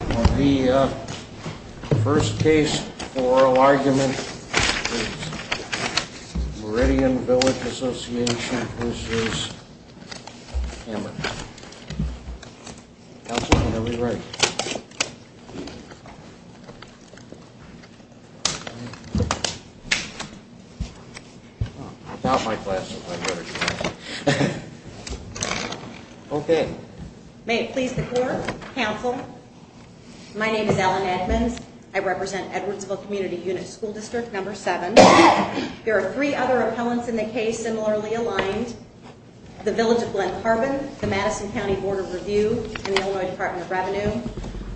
The first case for oral argument is Meridian Village Association v. Hamer. Counsel, when are we ready? Without my glasses, I'd better try. Okay. May it please the court. Counsel, my name is Ellen Edmonds. I represent Edwardsville Community Unit School District No. 7. There are three other appellants in the case similarly aligned. The Village of Glen Carbon, the Madison County Board of Review, and the Illinois Department of Revenue.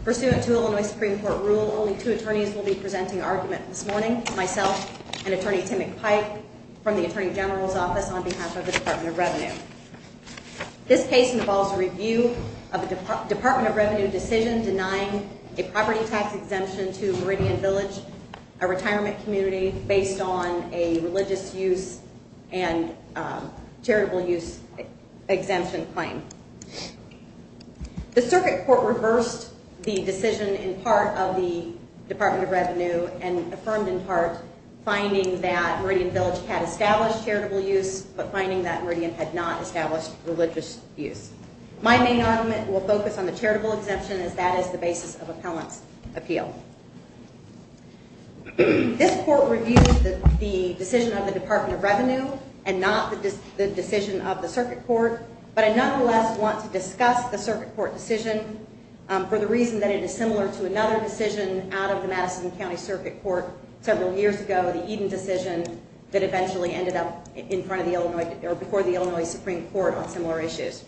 Pursuant to Illinois Supreme Court rule, only two attorneys will be presenting argument this morning. Myself and Attorney Tim McPike from the Attorney General's Office on behalf of the Department of Revenue. This case involves a review of a Department of Revenue decision denying a property tax exemption to Meridian Village, a retirement community, based on a religious use and charitable use exemption claim. The circuit court reversed the decision in part of the Department of Revenue and affirmed in part, finding that Meridian Village had established charitable use but finding that Meridian had not established religious use. My main argument will focus on the charitable exemption as that is the basis of appellant's appeal. This court reviewed the decision of the Department of Revenue and not the decision of the circuit court, but I nonetheless want to discuss the circuit court decision for the reason that it is similar to another decision out of the Madison County Circuit Court several years ago, the Eden decision, that eventually ended up before the Illinois Supreme Court on similar issues.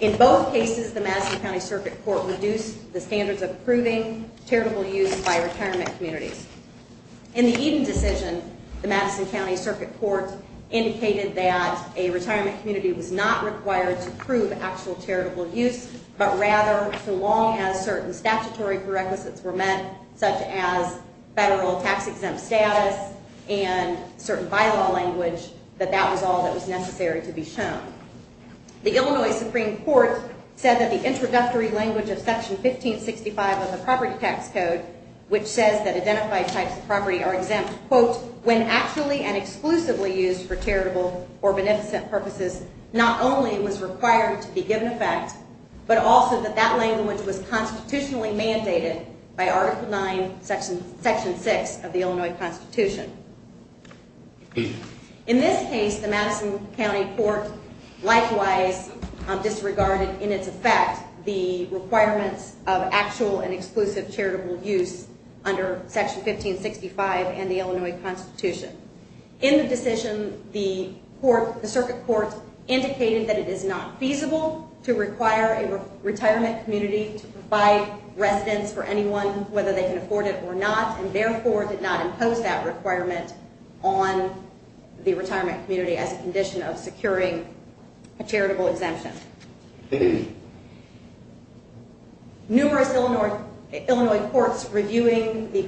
In both cases, the Madison County Circuit Court reduced the standards of approving charitable use by retirement communities. In the Eden decision, the Madison County Circuit Court indicated that a retirement community was not required to approve actual charitable use, but rather so long as certain statutory prerequisites were met, such as federal tax exempt status and certain bylaw language, that that was all that was necessary to be shown. The Illinois Supreme Court said that the introductory language of Section 1565 of the Property Tax Code, which says that identified types of property are exempt, quote, when actually and exclusively used for charitable or beneficent purposes, not only was required to be given effect, but also that that language was constitutionally mandated by Article IX, Section 6 of the Illinois Constitution. In this case, the Madison County Court likewise disregarded in its effect the requirements of actual and exclusive charitable use under Section 1565 and the Illinois Constitution. In the decision, the circuit court indicated that it is not feasible to require a retirement community to provide residence for anyone, whether they can afford it or not, and therefore did not impose that requirement on the retirement community as a condition of securing a charitable exemption. Numerous Illinois courts reviewing the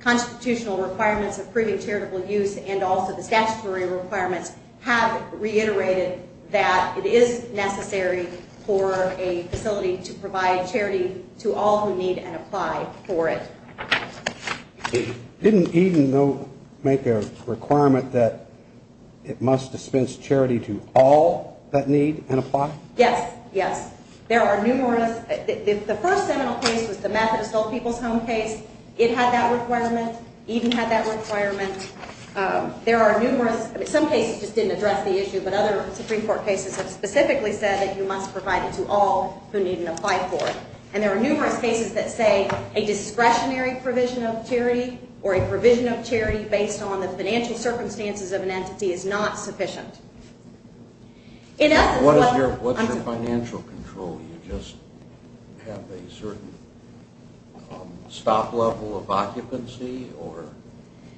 constitutional requirements of proving charitable use and also the statutory requirements have reiterated that it is necessary for a facility to provide charity to all who need and apply for it. Didn't Eden make a requirement that it must dispense charity to all that need and apply? Yes, yes. There are numerous. The first seminal case was the Methodist Old People's Home case. It had that requirement. Eden had that requirement. There are numerous. Some cases just didn't address the issue, but other Supreme Court cases have specifically said that you must provide it to all who need and apply for it. And there are numerous cases that say a discretionary provision of charity or a provision of charity based on the financial circumstances of an entity is not sufficient. What is your financial control? Do you just have a certain stop level of occupancy?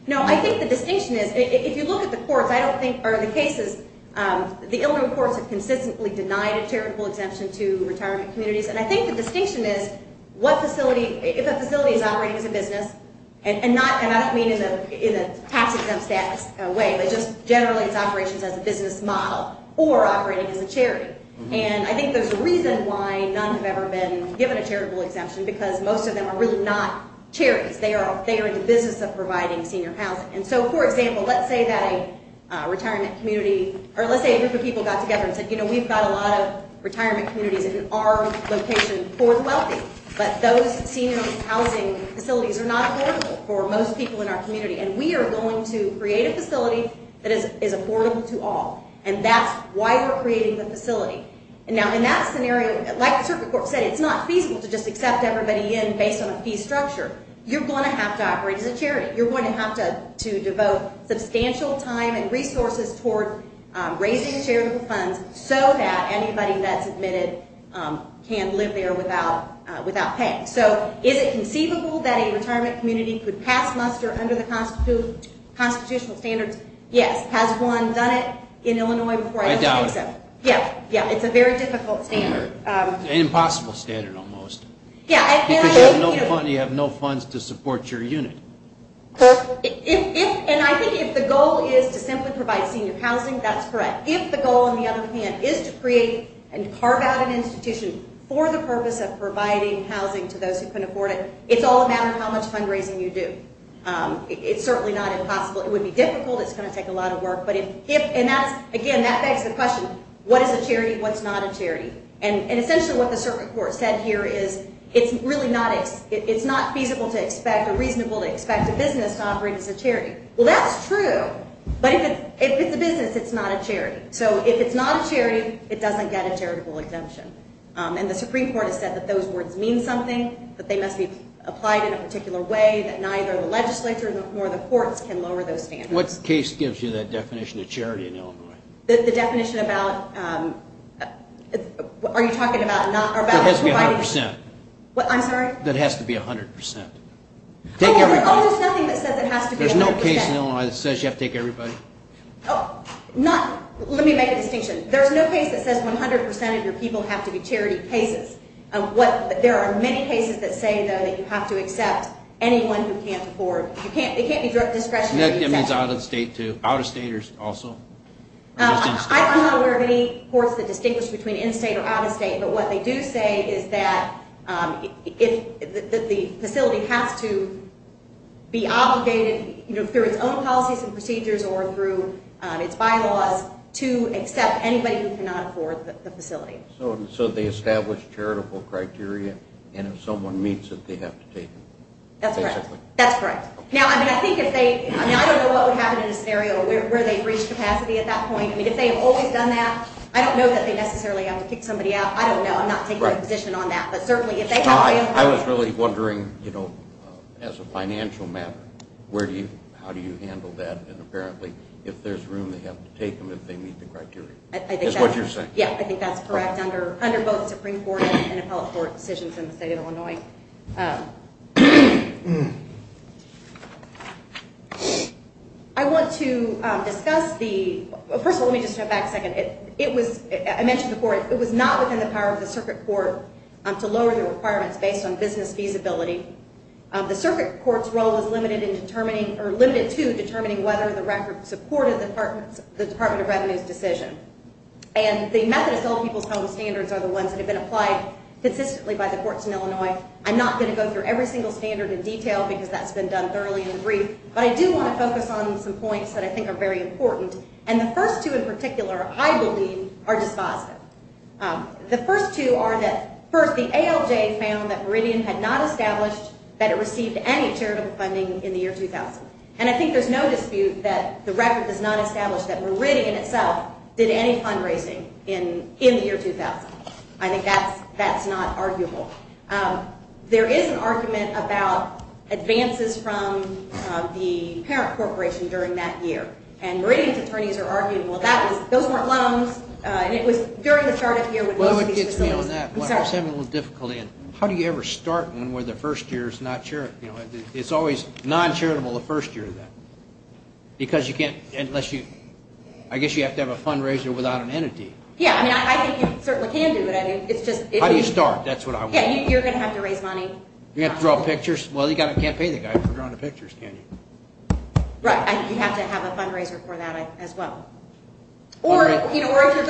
No, I think the distinction is, if you look at the courts, I don't think, or the cases, the Illinois courts have consistently denied a charitable exemption to retirement communities, and I think the distinction is what facility, if a facility is operating as a business, and I don't mean in a tax exempt status way, but just generally it's operations as a business model or operating as a charity. And I think there's a reason why none have ever been given a charitable exemption, because most of them are really not charities. They are in the business of providing senior housing. And so, for example, let's say that a retirement community, or let's say a group of people got together and said, you know, we've got a lot of retirement communities in our location poor and wealthy, but those senior housing facilities are not affordable for most people in our community, and we are going to create a facility that is affordable to all, and that's why we're creating the facility. And now, in that scenario, like the Circuit Court said, it's not feasible to just accept everybody in based on a fee structure. You're going to have to operate as a charity. You're going to have to devote substantial time and resources toward raising charitable funds so that anybody that's admitted can live there without paying. So is it conceivable that a retirement community could pass muster under the constitutional standards? Yes. Has one done it in Illinois before? I doubt it. Yeah, yeah. It's a very difficult standard. An impossible standard almost. Yeah. Because you have no funds to support your unit. And I think if the goal is to simply provide senior housing, that's correct. If the goal, on the other hand, is to create and carve out an institution for the purpose of providing housing to those who can afford it, it's all a matter of how much fundraising you do. It's certainly not impossible. It would be difficult. It's going to take a lot of work. And, again, that begs the question, what is a charity and what's not a charity? And essentially what the circuit court said here is it's not feasible to expect or reasonable to expect a business to operate as a charity. Well, that's true. But if it's a business, it's not a charity. So if it's not a charity, it doesn't get a charitable exemption. And the Supreme Court has said that those words mean something, that they must be applied in a particular way, that neither the legislature nor the courts can lower those standards. What case gives you that definition of charity in Illinois? The definition about, are you talking about not providing? It has to be 100%. I'm sorry? It has to be 100%. Oh, there's nothing that says it has to be 100%. There's no case in Illinois that says you have to take everybody. Let me make a distinction. There's no case that says 100% of your people have to be charity cases. There are many cases that say, though, that you have to accept anyone who can't afford. It can't be discretionary. And that means out-of-state, too? Out-of-state also? I'm not aware of any courts that distinguish between in-state or out-of-state. But what they do say is that the facility has to be obligated through its own policies and procedures or through its bylaws to accept anybody who cannot afford the facility. So they establish charitable criteria, and if someone meets it, they have to take them. That's correct. Now, I don't know what would happen in a scenario where they breach capacity at that point. If they have always done that, I don't know that they necessarily have to kick somebody out. I don't know. I'm not taking a position on that. I was really wondering, as a financial matter, how do you handle that? And apparently, if there's room, they have to take them if they meet the criteria, is what you're saying. Yeah, I think that's correct under both Supreme Court and appellate court decisions in the state of Illinois. I want to discuss the—first of all, let me just jump back a second. I mentioned before, it was not within the power of the circuit court to lower the requirements based on business feasibility. The circuit court's role was limited to determining whether the record supported the Department of Revenue's decision. And the Methodist Old People's Home Standards are the ones that have been applied consistently by the courts in Illinois. I'm not going to go through every single standard in detail because that's been done thoroughly and in brief, but I do want to focus on some points that I think are very important. And the first two in particular, I believe, are dispositive. The first two are that, first, the ALJ found that Meridian had not established that it received any charitable funding in the year 2000. And I think there's no dispute that the record does not establish that Meridian itself did any fundraising in the year 2000. I think that's not arguable. There is an argument about advances from the parent corporation during that year, and Meridian's attorneys are arguing, well, those weren't loans, and it was during the start of the year when most of these facilities— Well, it gets me on that, but I was having a little difficulty. How do you ever start one where the first year is not charitable? It's always non-charitable the first year of that because you can't—unless you—I guess you have to have a fundraiser without an entity. Yeah, I mean, I think you certainly can do it. It's just— How do you start? That's what I want to know. Yeah, you're going to have to raise money. You're going to have to draw pictures? Well, you can't pay the guy for drawing the pictures, can you? Right, you have to have a fundraiser for that as well. Or if you're going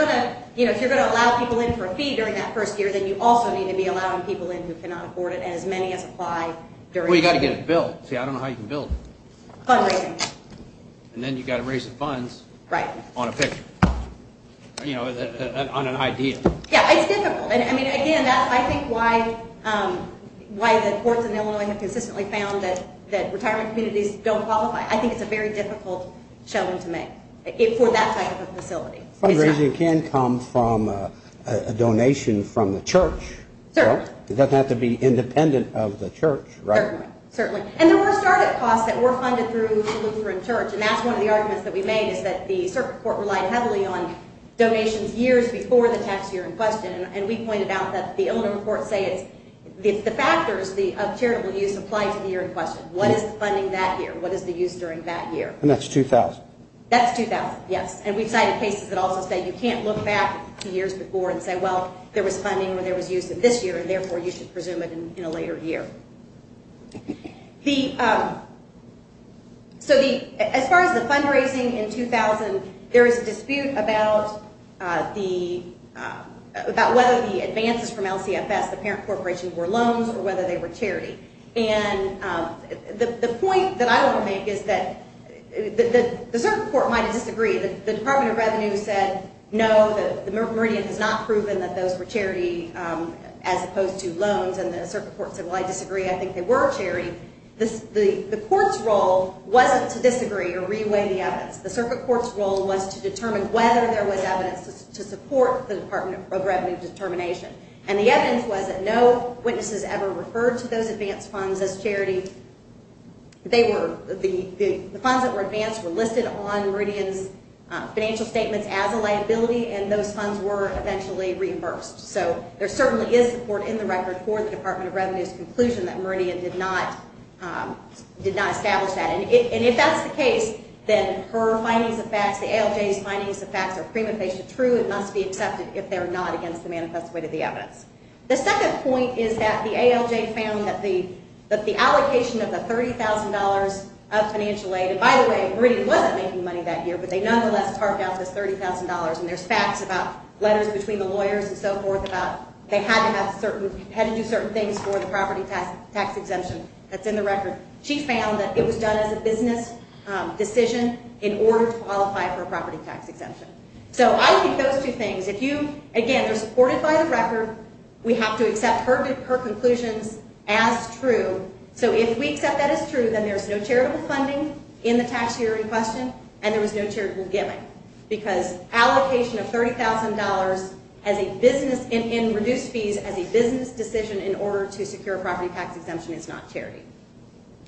to allow people in for a fee during that first year, then you also need to be allowing people in who cannot afford it, and as many as apply during— Well, you've got to get it built. See, I don't know how you can build it. Fundraising. And then you've got to raise the funds on a picture, on an idea. Yeah, it's difficult. I mean, again, that's, I think, why the courts in Illinois have consistently found that retirement communities don't qualify. I think it's a very difficult showing to make for that type of a facility. Fundraising can come from a donation from the church. Certainly. It doesn't have to be independent of the church, right? Certainly. And there were start-up costs that were funded through Lutheran Church, and that's one of the arguments that we made is that the circuit court relied heavily on donations years before the tax year in question, and we pointed out that the Illinois courts say it's the factors of charitable use apply to the year in question. What is the funding that year? What is the use during that year? And that's 2000. That's 2000, yes. And we've cited cases that also say you can't look back to years before and say, well, there was funding when there was use in this year, and therefore you should presume it in a later year. So as far as the fundraising in 2000, there was a dispute about whether the advances from LCFS, the parent corporation, were loans or whether they were charity. And the point that I want to make is that the circuit court might have disagreed. The Department of Revenue said, no, the Meridian has not proven that those were charity as opposed to loans, and the circuit court said, well, I disagree. I think they were charity. The court's role wasn't to disagree or re-weigh the evidence. The circuit court's role was to determine whether there was evidence to support the Department of Revenue determination, and the evidence was that no witnesses ever referred to those advance funds as charity. The funds that were advanced were listed on Meridian's financial statements as a liability, and those funds were eventually reimbursed. So there certainly is support in the record for the Department of Revenue's conclusion that Meridian did not establish that, and if that's the case, then her findings of facts, the ALJ's findings of facts are prima facie true. It must be accepted if they're not against the manifest way to the evidence. The second point is that the ALJ found that the allocation of the $30,000 of financial aid, and by the way, Meridian wasn't making money that year, but they nonetheless parked out this $30,000, and there's facts about letters between the lawyers and so forth about they had to have certain, had to do certain things for the property tax exemption that's in the record. She found that it was done as a business decision in order to qualify for a property tax exemption. So I think those two things, if you, again, they're supported by the record. We have to accept her conclusions as true. So if we accept that as true, then there's no charitable funding in the tax year in question, and there was no charitable giving because allocation of $30,000 as a business, in reduced fees as a business decision in order to secure a property tax exemption is not charity.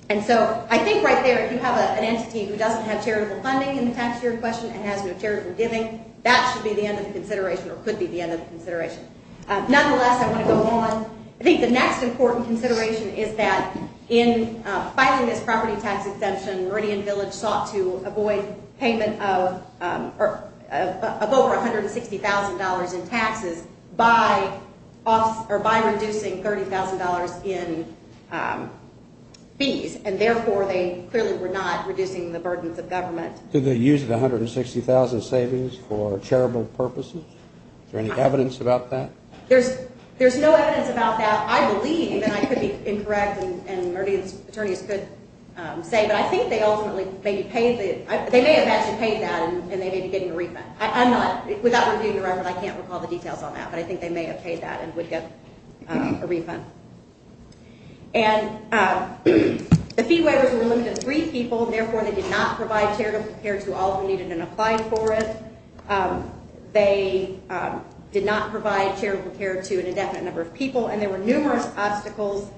And so I think right there, if you have an entity who doesn't have charitable funding in the tax year in question and has no charitable giving, that should be the end of the consideration or could be the end of the consideration. Nonetheless, I want to go on. I think the next important consideration is that in filing this property tax exemption, Meridian Village sought to avoid payment of over $160,000 in taxes by reducing $30,000 in fees, and therefore they clearly were not reducing the burdens of government. Did they use the $160,000 savings for charitable purposes? Is there any evidence about that? There's no evidence about that, I believe, and I could be incorrect and Meridian's attorneys could say, but I think they ultimately maybe paid the ‑‑ they may have actually paid that and they may be getting a refund. I'm not ‑‑ without reviewing the record, I can't recall the details on that, but I think they may have paid that and would get a refund. And the fee waivers were limited to three people, therefore they did not provide charitable care to all who needed and applied for it. They did not provide charitable care to an indefinite number of people, and there were numerous obstacles,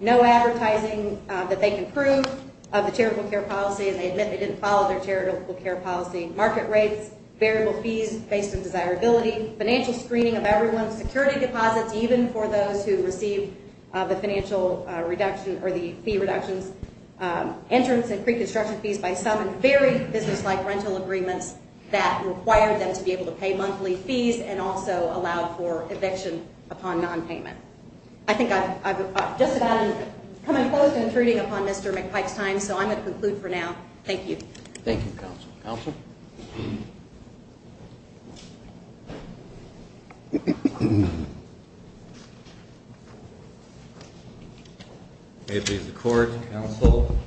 no advertising that they can prove of the charitable care policy, and they admit they didn't follow their charitable care policy. Market rates, variable fees based on desirability, financial screening of everyone, security deposits even for those who receive the financial reduction or the fee reductions, entrance and preconstruction fees by some, and very businesslike rental agreements that required them to be able to pay monthly fees and also allow for eviction upon nonpayment. I think I've just about come in close to intruding upon Mr. McPike's time, so I'm going to conclude for now. Thank you. Thank you, counsel. Counsel? May it please the Court, counsel,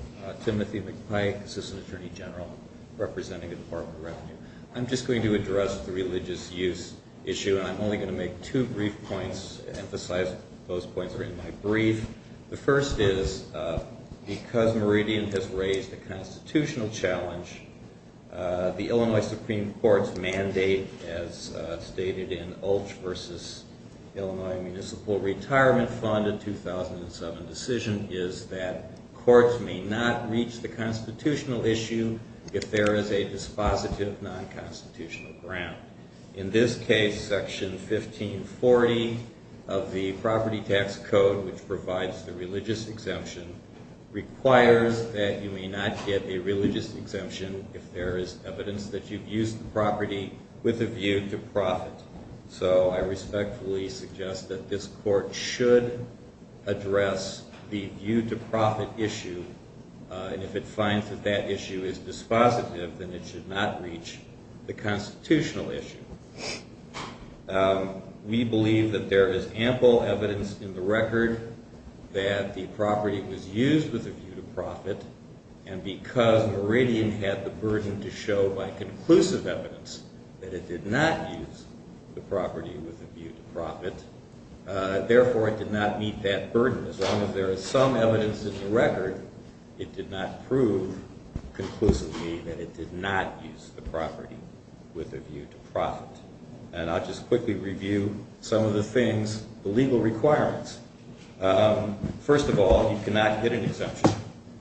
Timothy McPike, Assistant Attorney General, representing the Department of Revenue. I'm just going to address the religious use issue, and I'm only going to make two brief points, emphasize those points are in my brief. The first is because Meridian has raised a constitutional challenge, the Illinois Supreme Court's mandate, as stated in Ulch v. Illinois Municipal Retirement Fund, a 2007 decision, is that courts may not reach the constitutional issue if there is a dispositive non-constitutional ground. In this case, Section 1540 of the Property Tax Code, which provides the religious exemption, requires that you may not get a religious exemption if there is evidence that you've used the property with a view to profit. So I respectfully suggest that this Court should address the view to profit issue, and if it finds that that issue is dispositive, then it should not reach the constitutional issue. We believe that there is ample evidence in the record that the property was used with a view to profit, and because Meridian had the burden to show by conclusive evidence that it did not use the property with a view to profit, therefore it did not meet that burden. As long as there is some evidence in the record, it did not prove conclusively that it did not use the property with a view to profit. And I'll just quickly review some of the things, the legal requirements. First of all, you cannot get an exemption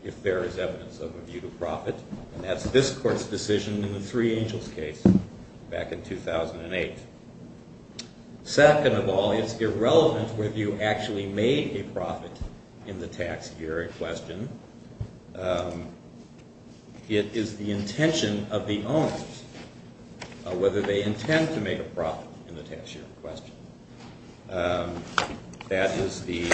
if there is evidence of a view to profit, and that's this Court's decision in the Three Angels case back in 2008. Second of all, it's irrelevant whether you actually made a profit in the tax year in question. It is the intention of the owners, whether they intend to make a profit in the tax year in question. That is the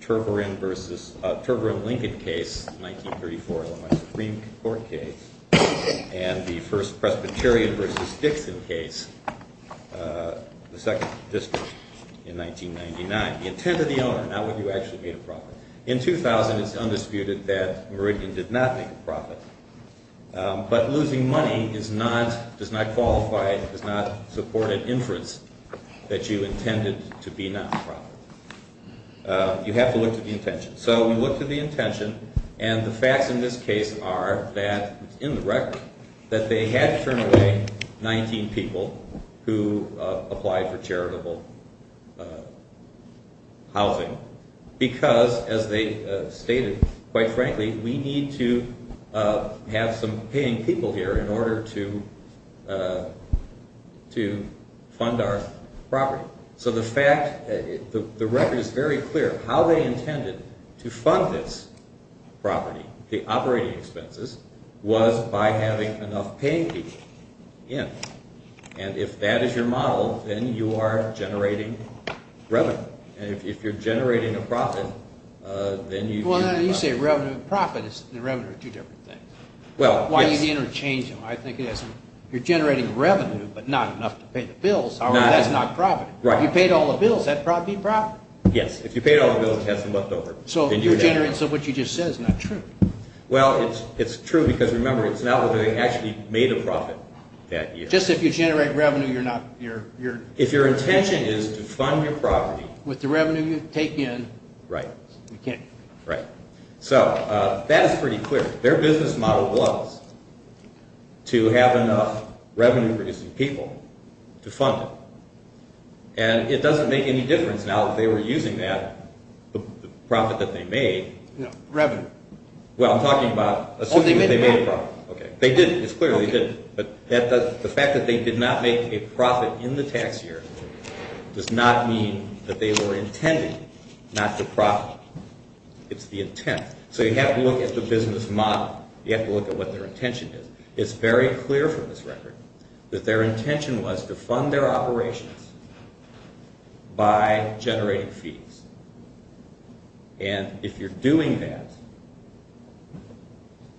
Turverin-Lincoln case, 1934 Illinois Supreme Court case, and the first Presbyterian versus Dixon case, the second district, in 1999. The intent of the owner, not whether you actually made a profit. In 2000, it's undisputed that Meridian did not make a profit, but losing money does not qualify, does not support an inference that you intended to be non-profit. You have to look to the intention. So we look to the intention, and the facts in this case are that it's in the record that they had to turn away 19 people who applied for charitable housing because, as they stated, quite frankly, we need to have some paying people here in order to fund our property. So the fact, the record is very clear. How they intended to fund this property, the operating expenses, was by having enough paying people in. And if that is your model, then you are generating revenue. And if you're generating a profit, then you do not. Well, now you say revenue and profit, the revenue are two different things. Well, yes. Why do you need to interchange them? I think it has to do, you're generating revenue, but not enough to pay the bills. That's not profit. If you paid all the bills, that'd be profit. Yes. If you paid all the bills, you'd have some left over. So what you just said is not true. Well, it's true because remember, it's not that they actually made a profit that year. Just if you generate revenue, you're not... If your intention is to fund your property... With the revenue you take in... Right. You can't... Right. So that is pretty clear. Their business model was to have enough revenue producing people to fund it. And it doesn't make any difference now that they were using that, the profit that they made. No, revenue. Well, I'm talking about assuming that they made a profit. Oh, they made a profit. Okay. They didn't. It's clear they didn't. But the fact that they did not make a profit in the tax year does not mean that they were intended not to profit. It's the intent. So you have to look at the business model. You have to look at what their intention is. It's very clear from this record that their intention was to fund their operations by generating fees. And if you're doing that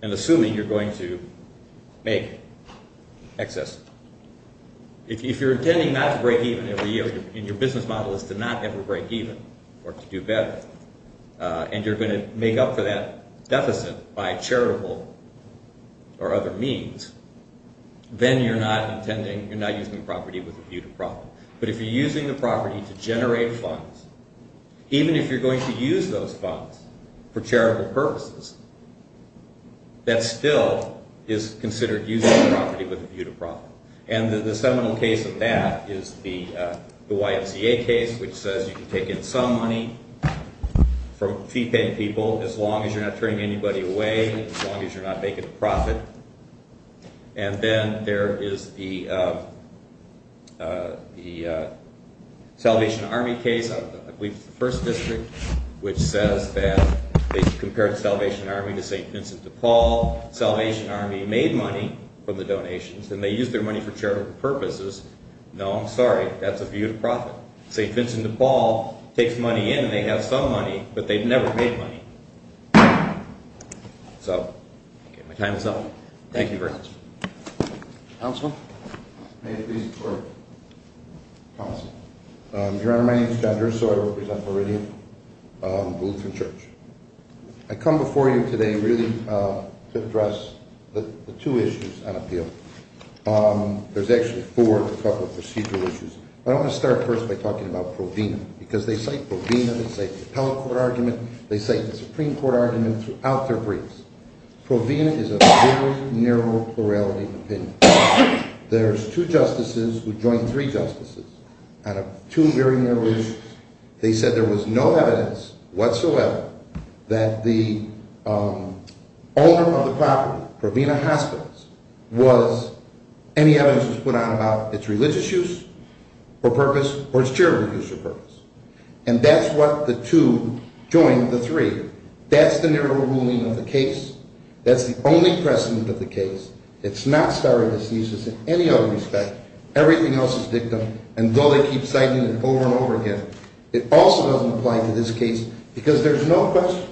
and assuming you're going to make excess... If you're intending not to break even every year and your business model is to not ever break even or to do better, and you're going to make up for that deficit by charitable or other means, then you're not using the property with a view to profit. But if you're using the property to generate funds, even if you're going to use those funds for charitable purposes, that still is considered using the property with a view to profit. And the seminal case of that is the YMCA case, which says you can take in some money from fee-paying people as long as you're not turning anybody away, as long as you're not making a profit. And then there is the Salvation Army case, I believe it's the 1st District, which says that they compared Salvation Army to St. Vincent de Paul. Salvation Army made money from the donations, and they used their money for charitable purposes. No, I'm sorry, that's a view to profit. St. Vincent de Paul takes money in, and they have some money, but they've never made money. So, my time is up. Thank you very much. Councilman? May it please the Court. Your Honor, my name is John Gerris, so I represent Viridian Lutheran Church. I come before you today really to address the two issues on appeal. There's actually four, a couple of procedural issues. I want to start first by talking about Provena, because they cite Provena, they cite the Appellate Court argument, they cite the Supreme Court argument throughout their briefs. Provena is a very narrow plurality of opinions. There's two justices who joined three justices out of two very narrow issues. They said there was no evidence whatsoever that the owner of the property, Provena Hospitals, was, any evidence was put out about its religious use for purpose or its charitable use for purpose. And that's what the two joined the three. That's the narrow ruling of the case. That's the only precedent of the case. It's not starting to seize us in any other respect. Everything else is dictum, and though they keep citing it over and over again, it also doesn't apply to this case because there's no question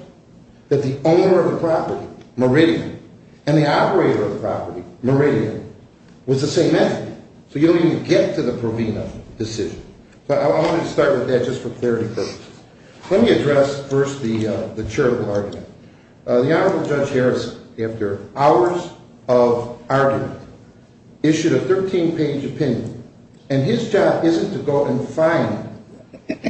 that the owner of the property, Viridian, and the operator of the property, Viridian, was the same entity. So you don't even get to the Provena decision. So I wanted to start with that just for clarity purposes. Let me address first the charitable argument. The Honorable Judge Harris, after hours of argument, issued a 13-page opinion, and his job isn't to go and find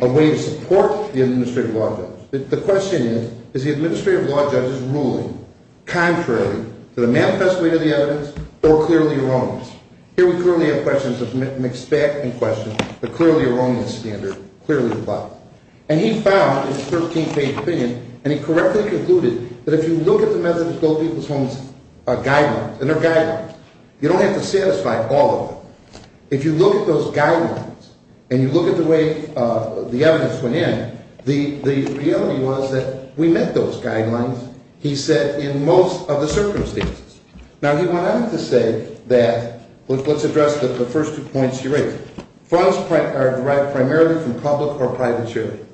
a way to support the administrative law judge. The question is, is the administrative law judge's ruling contrary to the manifest way to the evidence or clearly erroneous? Here we currently have questions of mixed back in question, but clearly erroneous standard, clearly the bottom. And he found in his 13-page opinion, and he correctly concluded, that if you look at the Methodist Old People's Homes guidelines, and they're guidelines, you don't have to satisfy all of them. If you look at those guidelines and you look at the way the evidence went in, the reality was that we met those guidelines, he said, in most of the circumstances. Now, he went on to say that, let's address the first two points he raised. Funds are derived primarily from public or private sharing.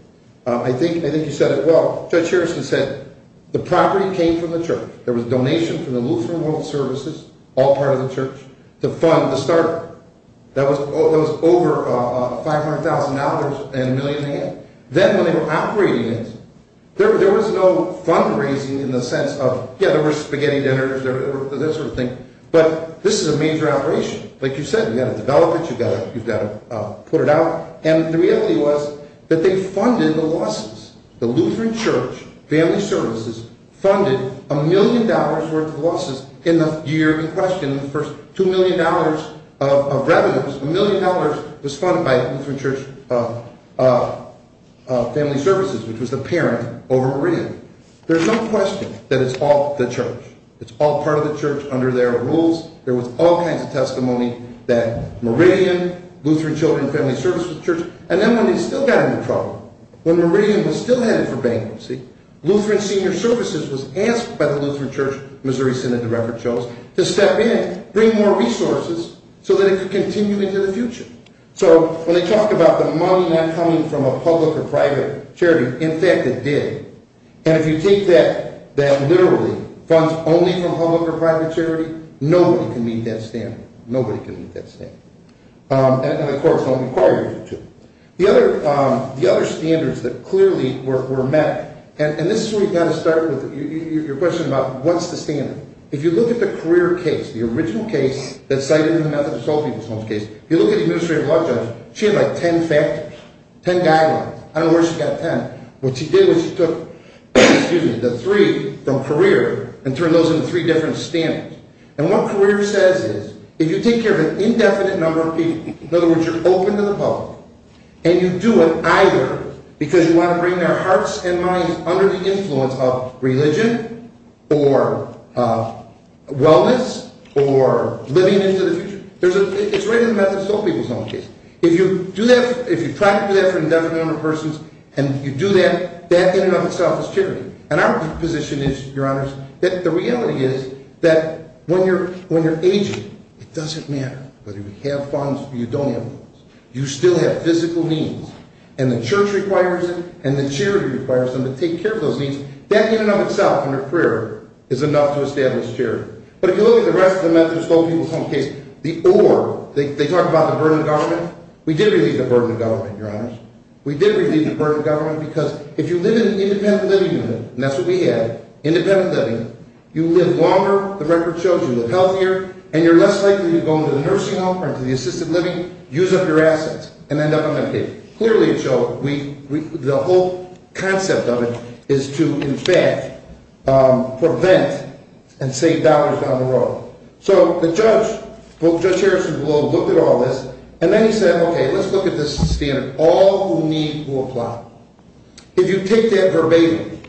I think you said it well. Judge Harris has said the property came from the church. There was a donation from the Lutheran World Services, all part of the church, to fund the start-up. That was over $500,000 and a million in debt. Then when they were operating it, there was no fundraising in the sense of, yeah, there were spaghetti dinners, that sort of thing. But this is a major operation. Like you said, you've got to develop it, you've got to put it out. And the reality was that they funded the losses. The Lutheran Church Family Services funded a million dollars' worth of losses in the year in question. The first $2 million of revenues, a million dollars was funded by the Lutheran Church Family Services, which was the parent over rent. There's no question that it's all the church. It's all part of the church under their rules. There was all kinds of testimony that Meridian, Lutheran Children's Family Services, and then when they still got into trouble, when Meridian was still headed for bankruptcy, Lutheran Senior Services was asked by the Lutheran Church Missouri Synod to step in, bring more resources so that it could continue into the future. So when they talked about the money not coming from a public or private charity, in fact it did. And if you take that literally, funds only from public or private charity, nobody can meet that standard. Nobody can meet that standard. And, of course, don't require you to. The other standards that clearly were met, and this is where you've got to start with your question about what's the standard. If you look at the career case, the original case that cited in the Methodist Whole People's Homes case, if you look at the administrative law judge, she had like ten factors, ten guidelines. I don't know where she got ten. What she did was she took the three from career and turned those into three different standards. And what career says is if you take care of an indefinite number of people, in other words you're open to the public, and you do it either because you want to bring their hearts and minds under the influence of religion or wellness or living into the future. It's written in the Methodist Whole People's Homes case. If you try to do that for an indefinite number of persons, and you do that, that in and of itself is charity. And our position is, Your Honors, that the reality is that when you're aging, it doesn't matter whether you have funds or you don't have funds. You still have physical needs. And the church requires it, and the charity requires them to take care of those needs. That in and of itself, in their career, is enough to establish charity. But if you look at the rest of the Methodist Whole People's Homes case, they talk about the burden of government. We did relieve the burden of government, Your Honors. We did relieve the burden of government because if you live in an independent living unit, and that's what we have, independent living, you live longer, the record shows you live healthier, and you're less likely to go into the nursing home or into the assisted living, use up your assets, and end up on Medicaid. Clearly it shows, the whole concept of it is to, in fact, prevent and save dollars down the road. So the judge, Judge Harrison, will look at all this, and then he said, okay, let's look at this standard. All who need will apply. If you take that verbatim,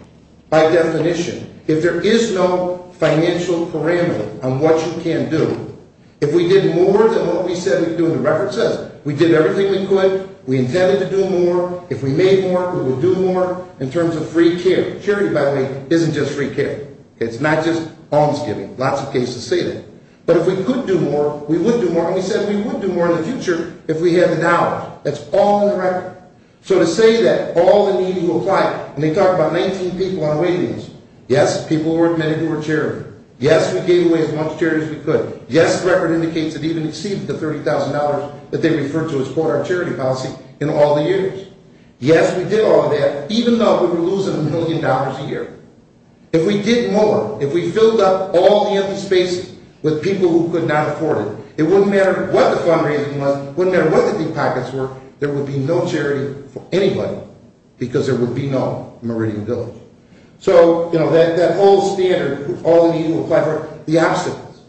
by definition, if there is no financial parameter on what you can do, if we did more than what we said we could do, and the record says we did everything we could, we intended to do more, if we made more, we will do more, in terms of free care. Charity, by the way, isn't just free care. It's not just almsgiving. Lots of cases say that. But if we could do more, we would do more, and we said we would do more in the future if we had the dollars. That's all in the record. So to say that all who need will apply, and they talk about 19 people on waivings. Yes, people who were admitted who were charitable. Yes, we gave away as much charity as we could. Yes, the record indicates that we even exceeded the $30,000 that they referred to as part of our charity policy in all the years. If we did more, if we filled up all the empty spaces with people who could not afford it, it wouldn't matter what the fundraising was, it wouldn't matter what the deep pockets were, there would be no charity for anybody because there would be no Meridian Village. So, you know, that whole standard, all who need will apply, the obstacles.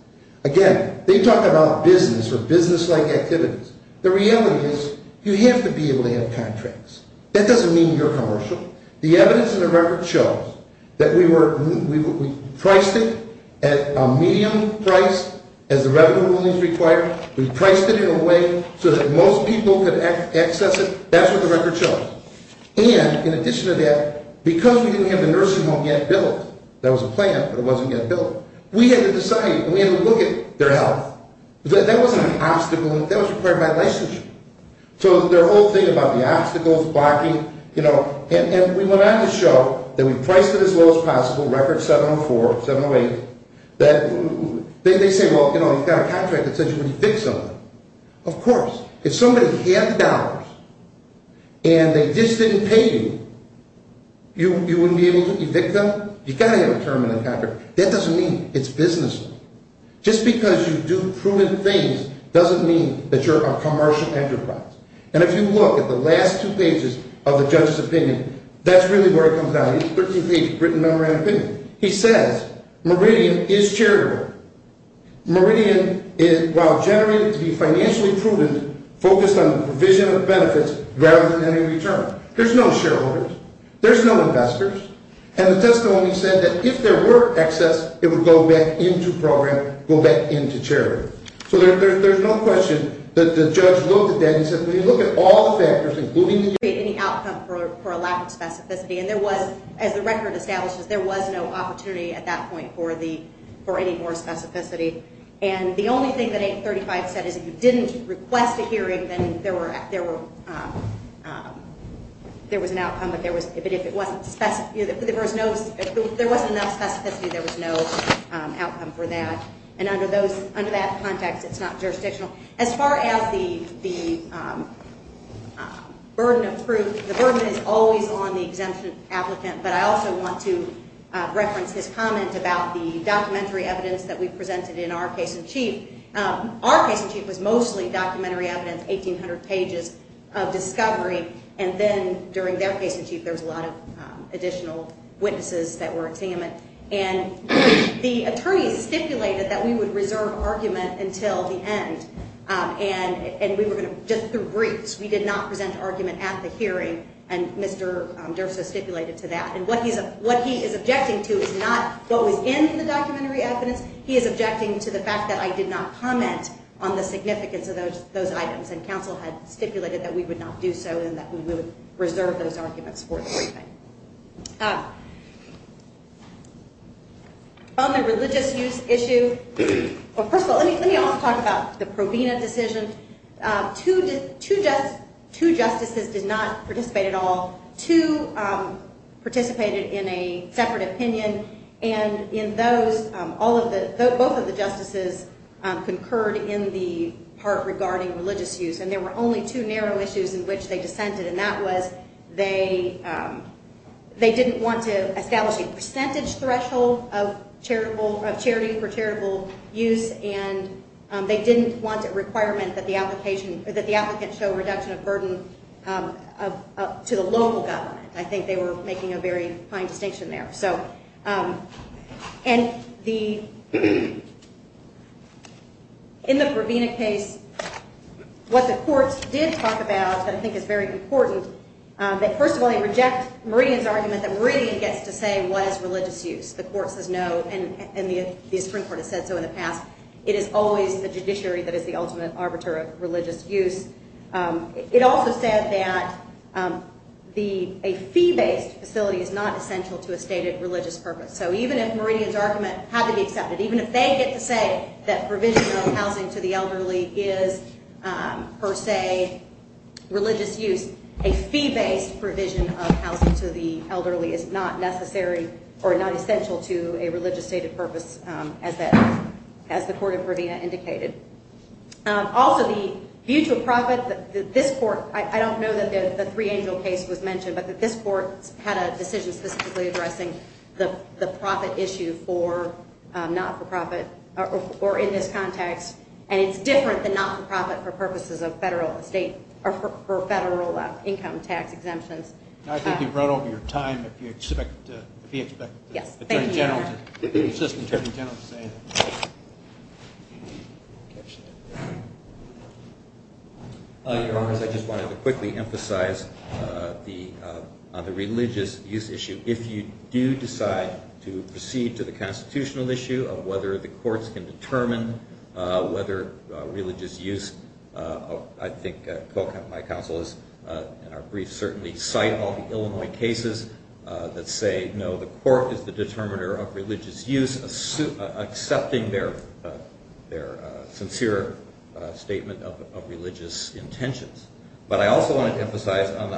Again, they talk about business or businesslike activities. The reality is you have to be able to have contracts. That doesn't mean you're commercial. The evidence in the record shows that we priced it at a medium price as the revenue was required. We priced it in a way so that most people could access it. That's what the record shows. And in addition to that, because we didn't have the nursing home yet built, that was a plan, but it wasn't yet built, we had to decide, we had to look at their health. That wasn't an obstacle, that was required by licensure. So their whole thing about the obstacles, blocking, you know, and we went on to show that we priced it as low as possible, record 704, 708, that they say, well, you know, you've got a contract that says you can evict somebody. Of course. If somebody had the dollars and they just didn't pay you, you wouldn't be able to evict them? You've got to have a term in the contract. That doesn't mean it's business. Just because you do prudent things doesn't mean that you're a commercial enterprise. And if you look at the last two pages of the judge's opinion, that's really where it comes down. It's a 13-page written number and opinion. He says Meridian is charitable. Meridian, while generated to be financially prudent, focused on the provision of benefits rather than any return. There's no shareholders. There's no investors. And the testimony said that if there were excess, it would go back into program, go back into charity. So there's no question that the judge looked at that and said, when you look at all the factors, including the outcome for a lack of specificity, and there was, as the record establishes, there was no opportunity at that point for any more specificity. And the only thing that 835 said is if you didn't request a hearing, then there was an outcome. But if there wasn't enough specificity, there was no outcome for that. And under that context, it's not jurisdictional. As far as the burden of proof, the burden is always on the exemption applicant. But I also want to reference his comment about the documentary evidence that we presented in our case in chief. Our case in chief was mostly documentary evidence, 1,800 pages of discovery. And then during their case in chief, there was a lot of additional witnesses that were examined. And the attorney stipulated that we would reserve argument until the end. And we were going to just do briefs. We did not present argument at the hearing. And Mr. Derso stipulated to that. And what he is objecting to is not what was in the documentary evidence. He is objecting to the fact that I did not comment on the significance of those items. And counsel had stipulated that we would not do so and that we would reserve those arguments for the briefing. On the religious use issue, well, first of all, let me also talk about the Provena decision. Two justices did not participate at all. Two participated in a separate opinion. And in those, both of the justices concurred in the part regarding religious use. And there were only two narrow issues in which they dissented. And that was they didn't want to establish a percentage threshold of charity for charitable use. And they didn't want a requirement that the applicant show reduction of burden to the local government. I think they were making a very fine distinction there. And in the Provena case, what the courts did talk about that I think is very important, that first of all, they reject Meridian's argument that Meridian gets to say what is religious use. The court says no, and the Supreme Court has said so in the past. It is always the judiciary that is the ultimate arbiter of religious use. It also said that a fee-based facility is not essential to a stated religious purpose. So even if Meridian's argument had to be accepted, even if they get to say that provision of housing to the elderly is per se religious use, a fee-based provision of housing to the elderly is not necessary or not essential to a religious stated purpose as the court of Provena indicated. Also, the mutual profit, this court, I don't know that the Three Angel case was mentioned, but this court had a decision specifically addressing the profit issue for not-for-profit or in this context. And it's different than not-for-profit for purposes of federal state or federal income tax exemptions. I think you've run over your time if you expect the Attorney General to say anything. Your Honors, I just wanted to quickly emphasize on the religious use issue. If you do decide to proceed to the constitutional issue of whether the courts can determine whether religious use, I think my counsel in our brief certainly cite all the Illinois cases that say no, the court is the determiner of religious use, accepting their sincere statement of religious intentions. But I also wanted to emphasize on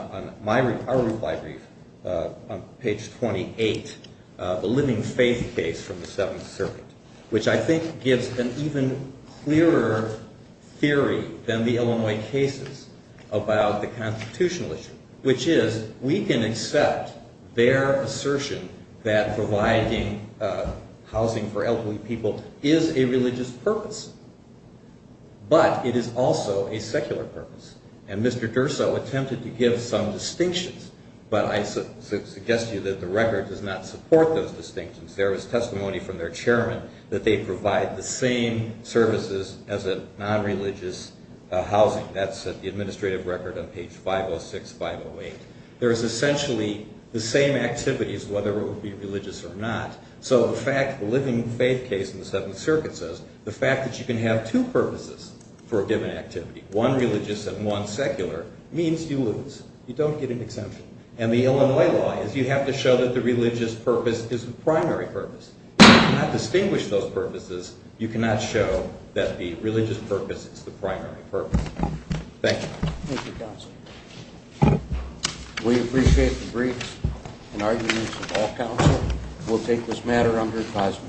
our reply brief on page 28, the Living Faith case from the Seventh Circuit, which I think gives an even clearer theory than the Illinois cases about the constitutional issue, which is we can accept their assertion that providing housing for elderly people is a religious purpose, but it is also a secular purpose. And Mr. Durso attempted to give some distinctions, but I suggest to you that the record does not support those distinctions. There is testimony from their chairman that they provide the same services as a non-religious housing. That's at the administrative record on page 506, 508. There is essentially the same activities, whether it would be religious or not. So the fact, the Living Faith case in the Seventh Circuit says the fact that you can have two purposes for a given activity, one religious and one secular, means you lose. You don't get an exemption. And the Illinois law is you have to show that the religious purpose is the primary purpose. If you cannot distinguish those purposes, you cannot show that the religious purpose is the primary purpose. Thank you. Thank you, counsel. We appreciate the briefs and arguments of all counsel. We'll take this matter under advisement.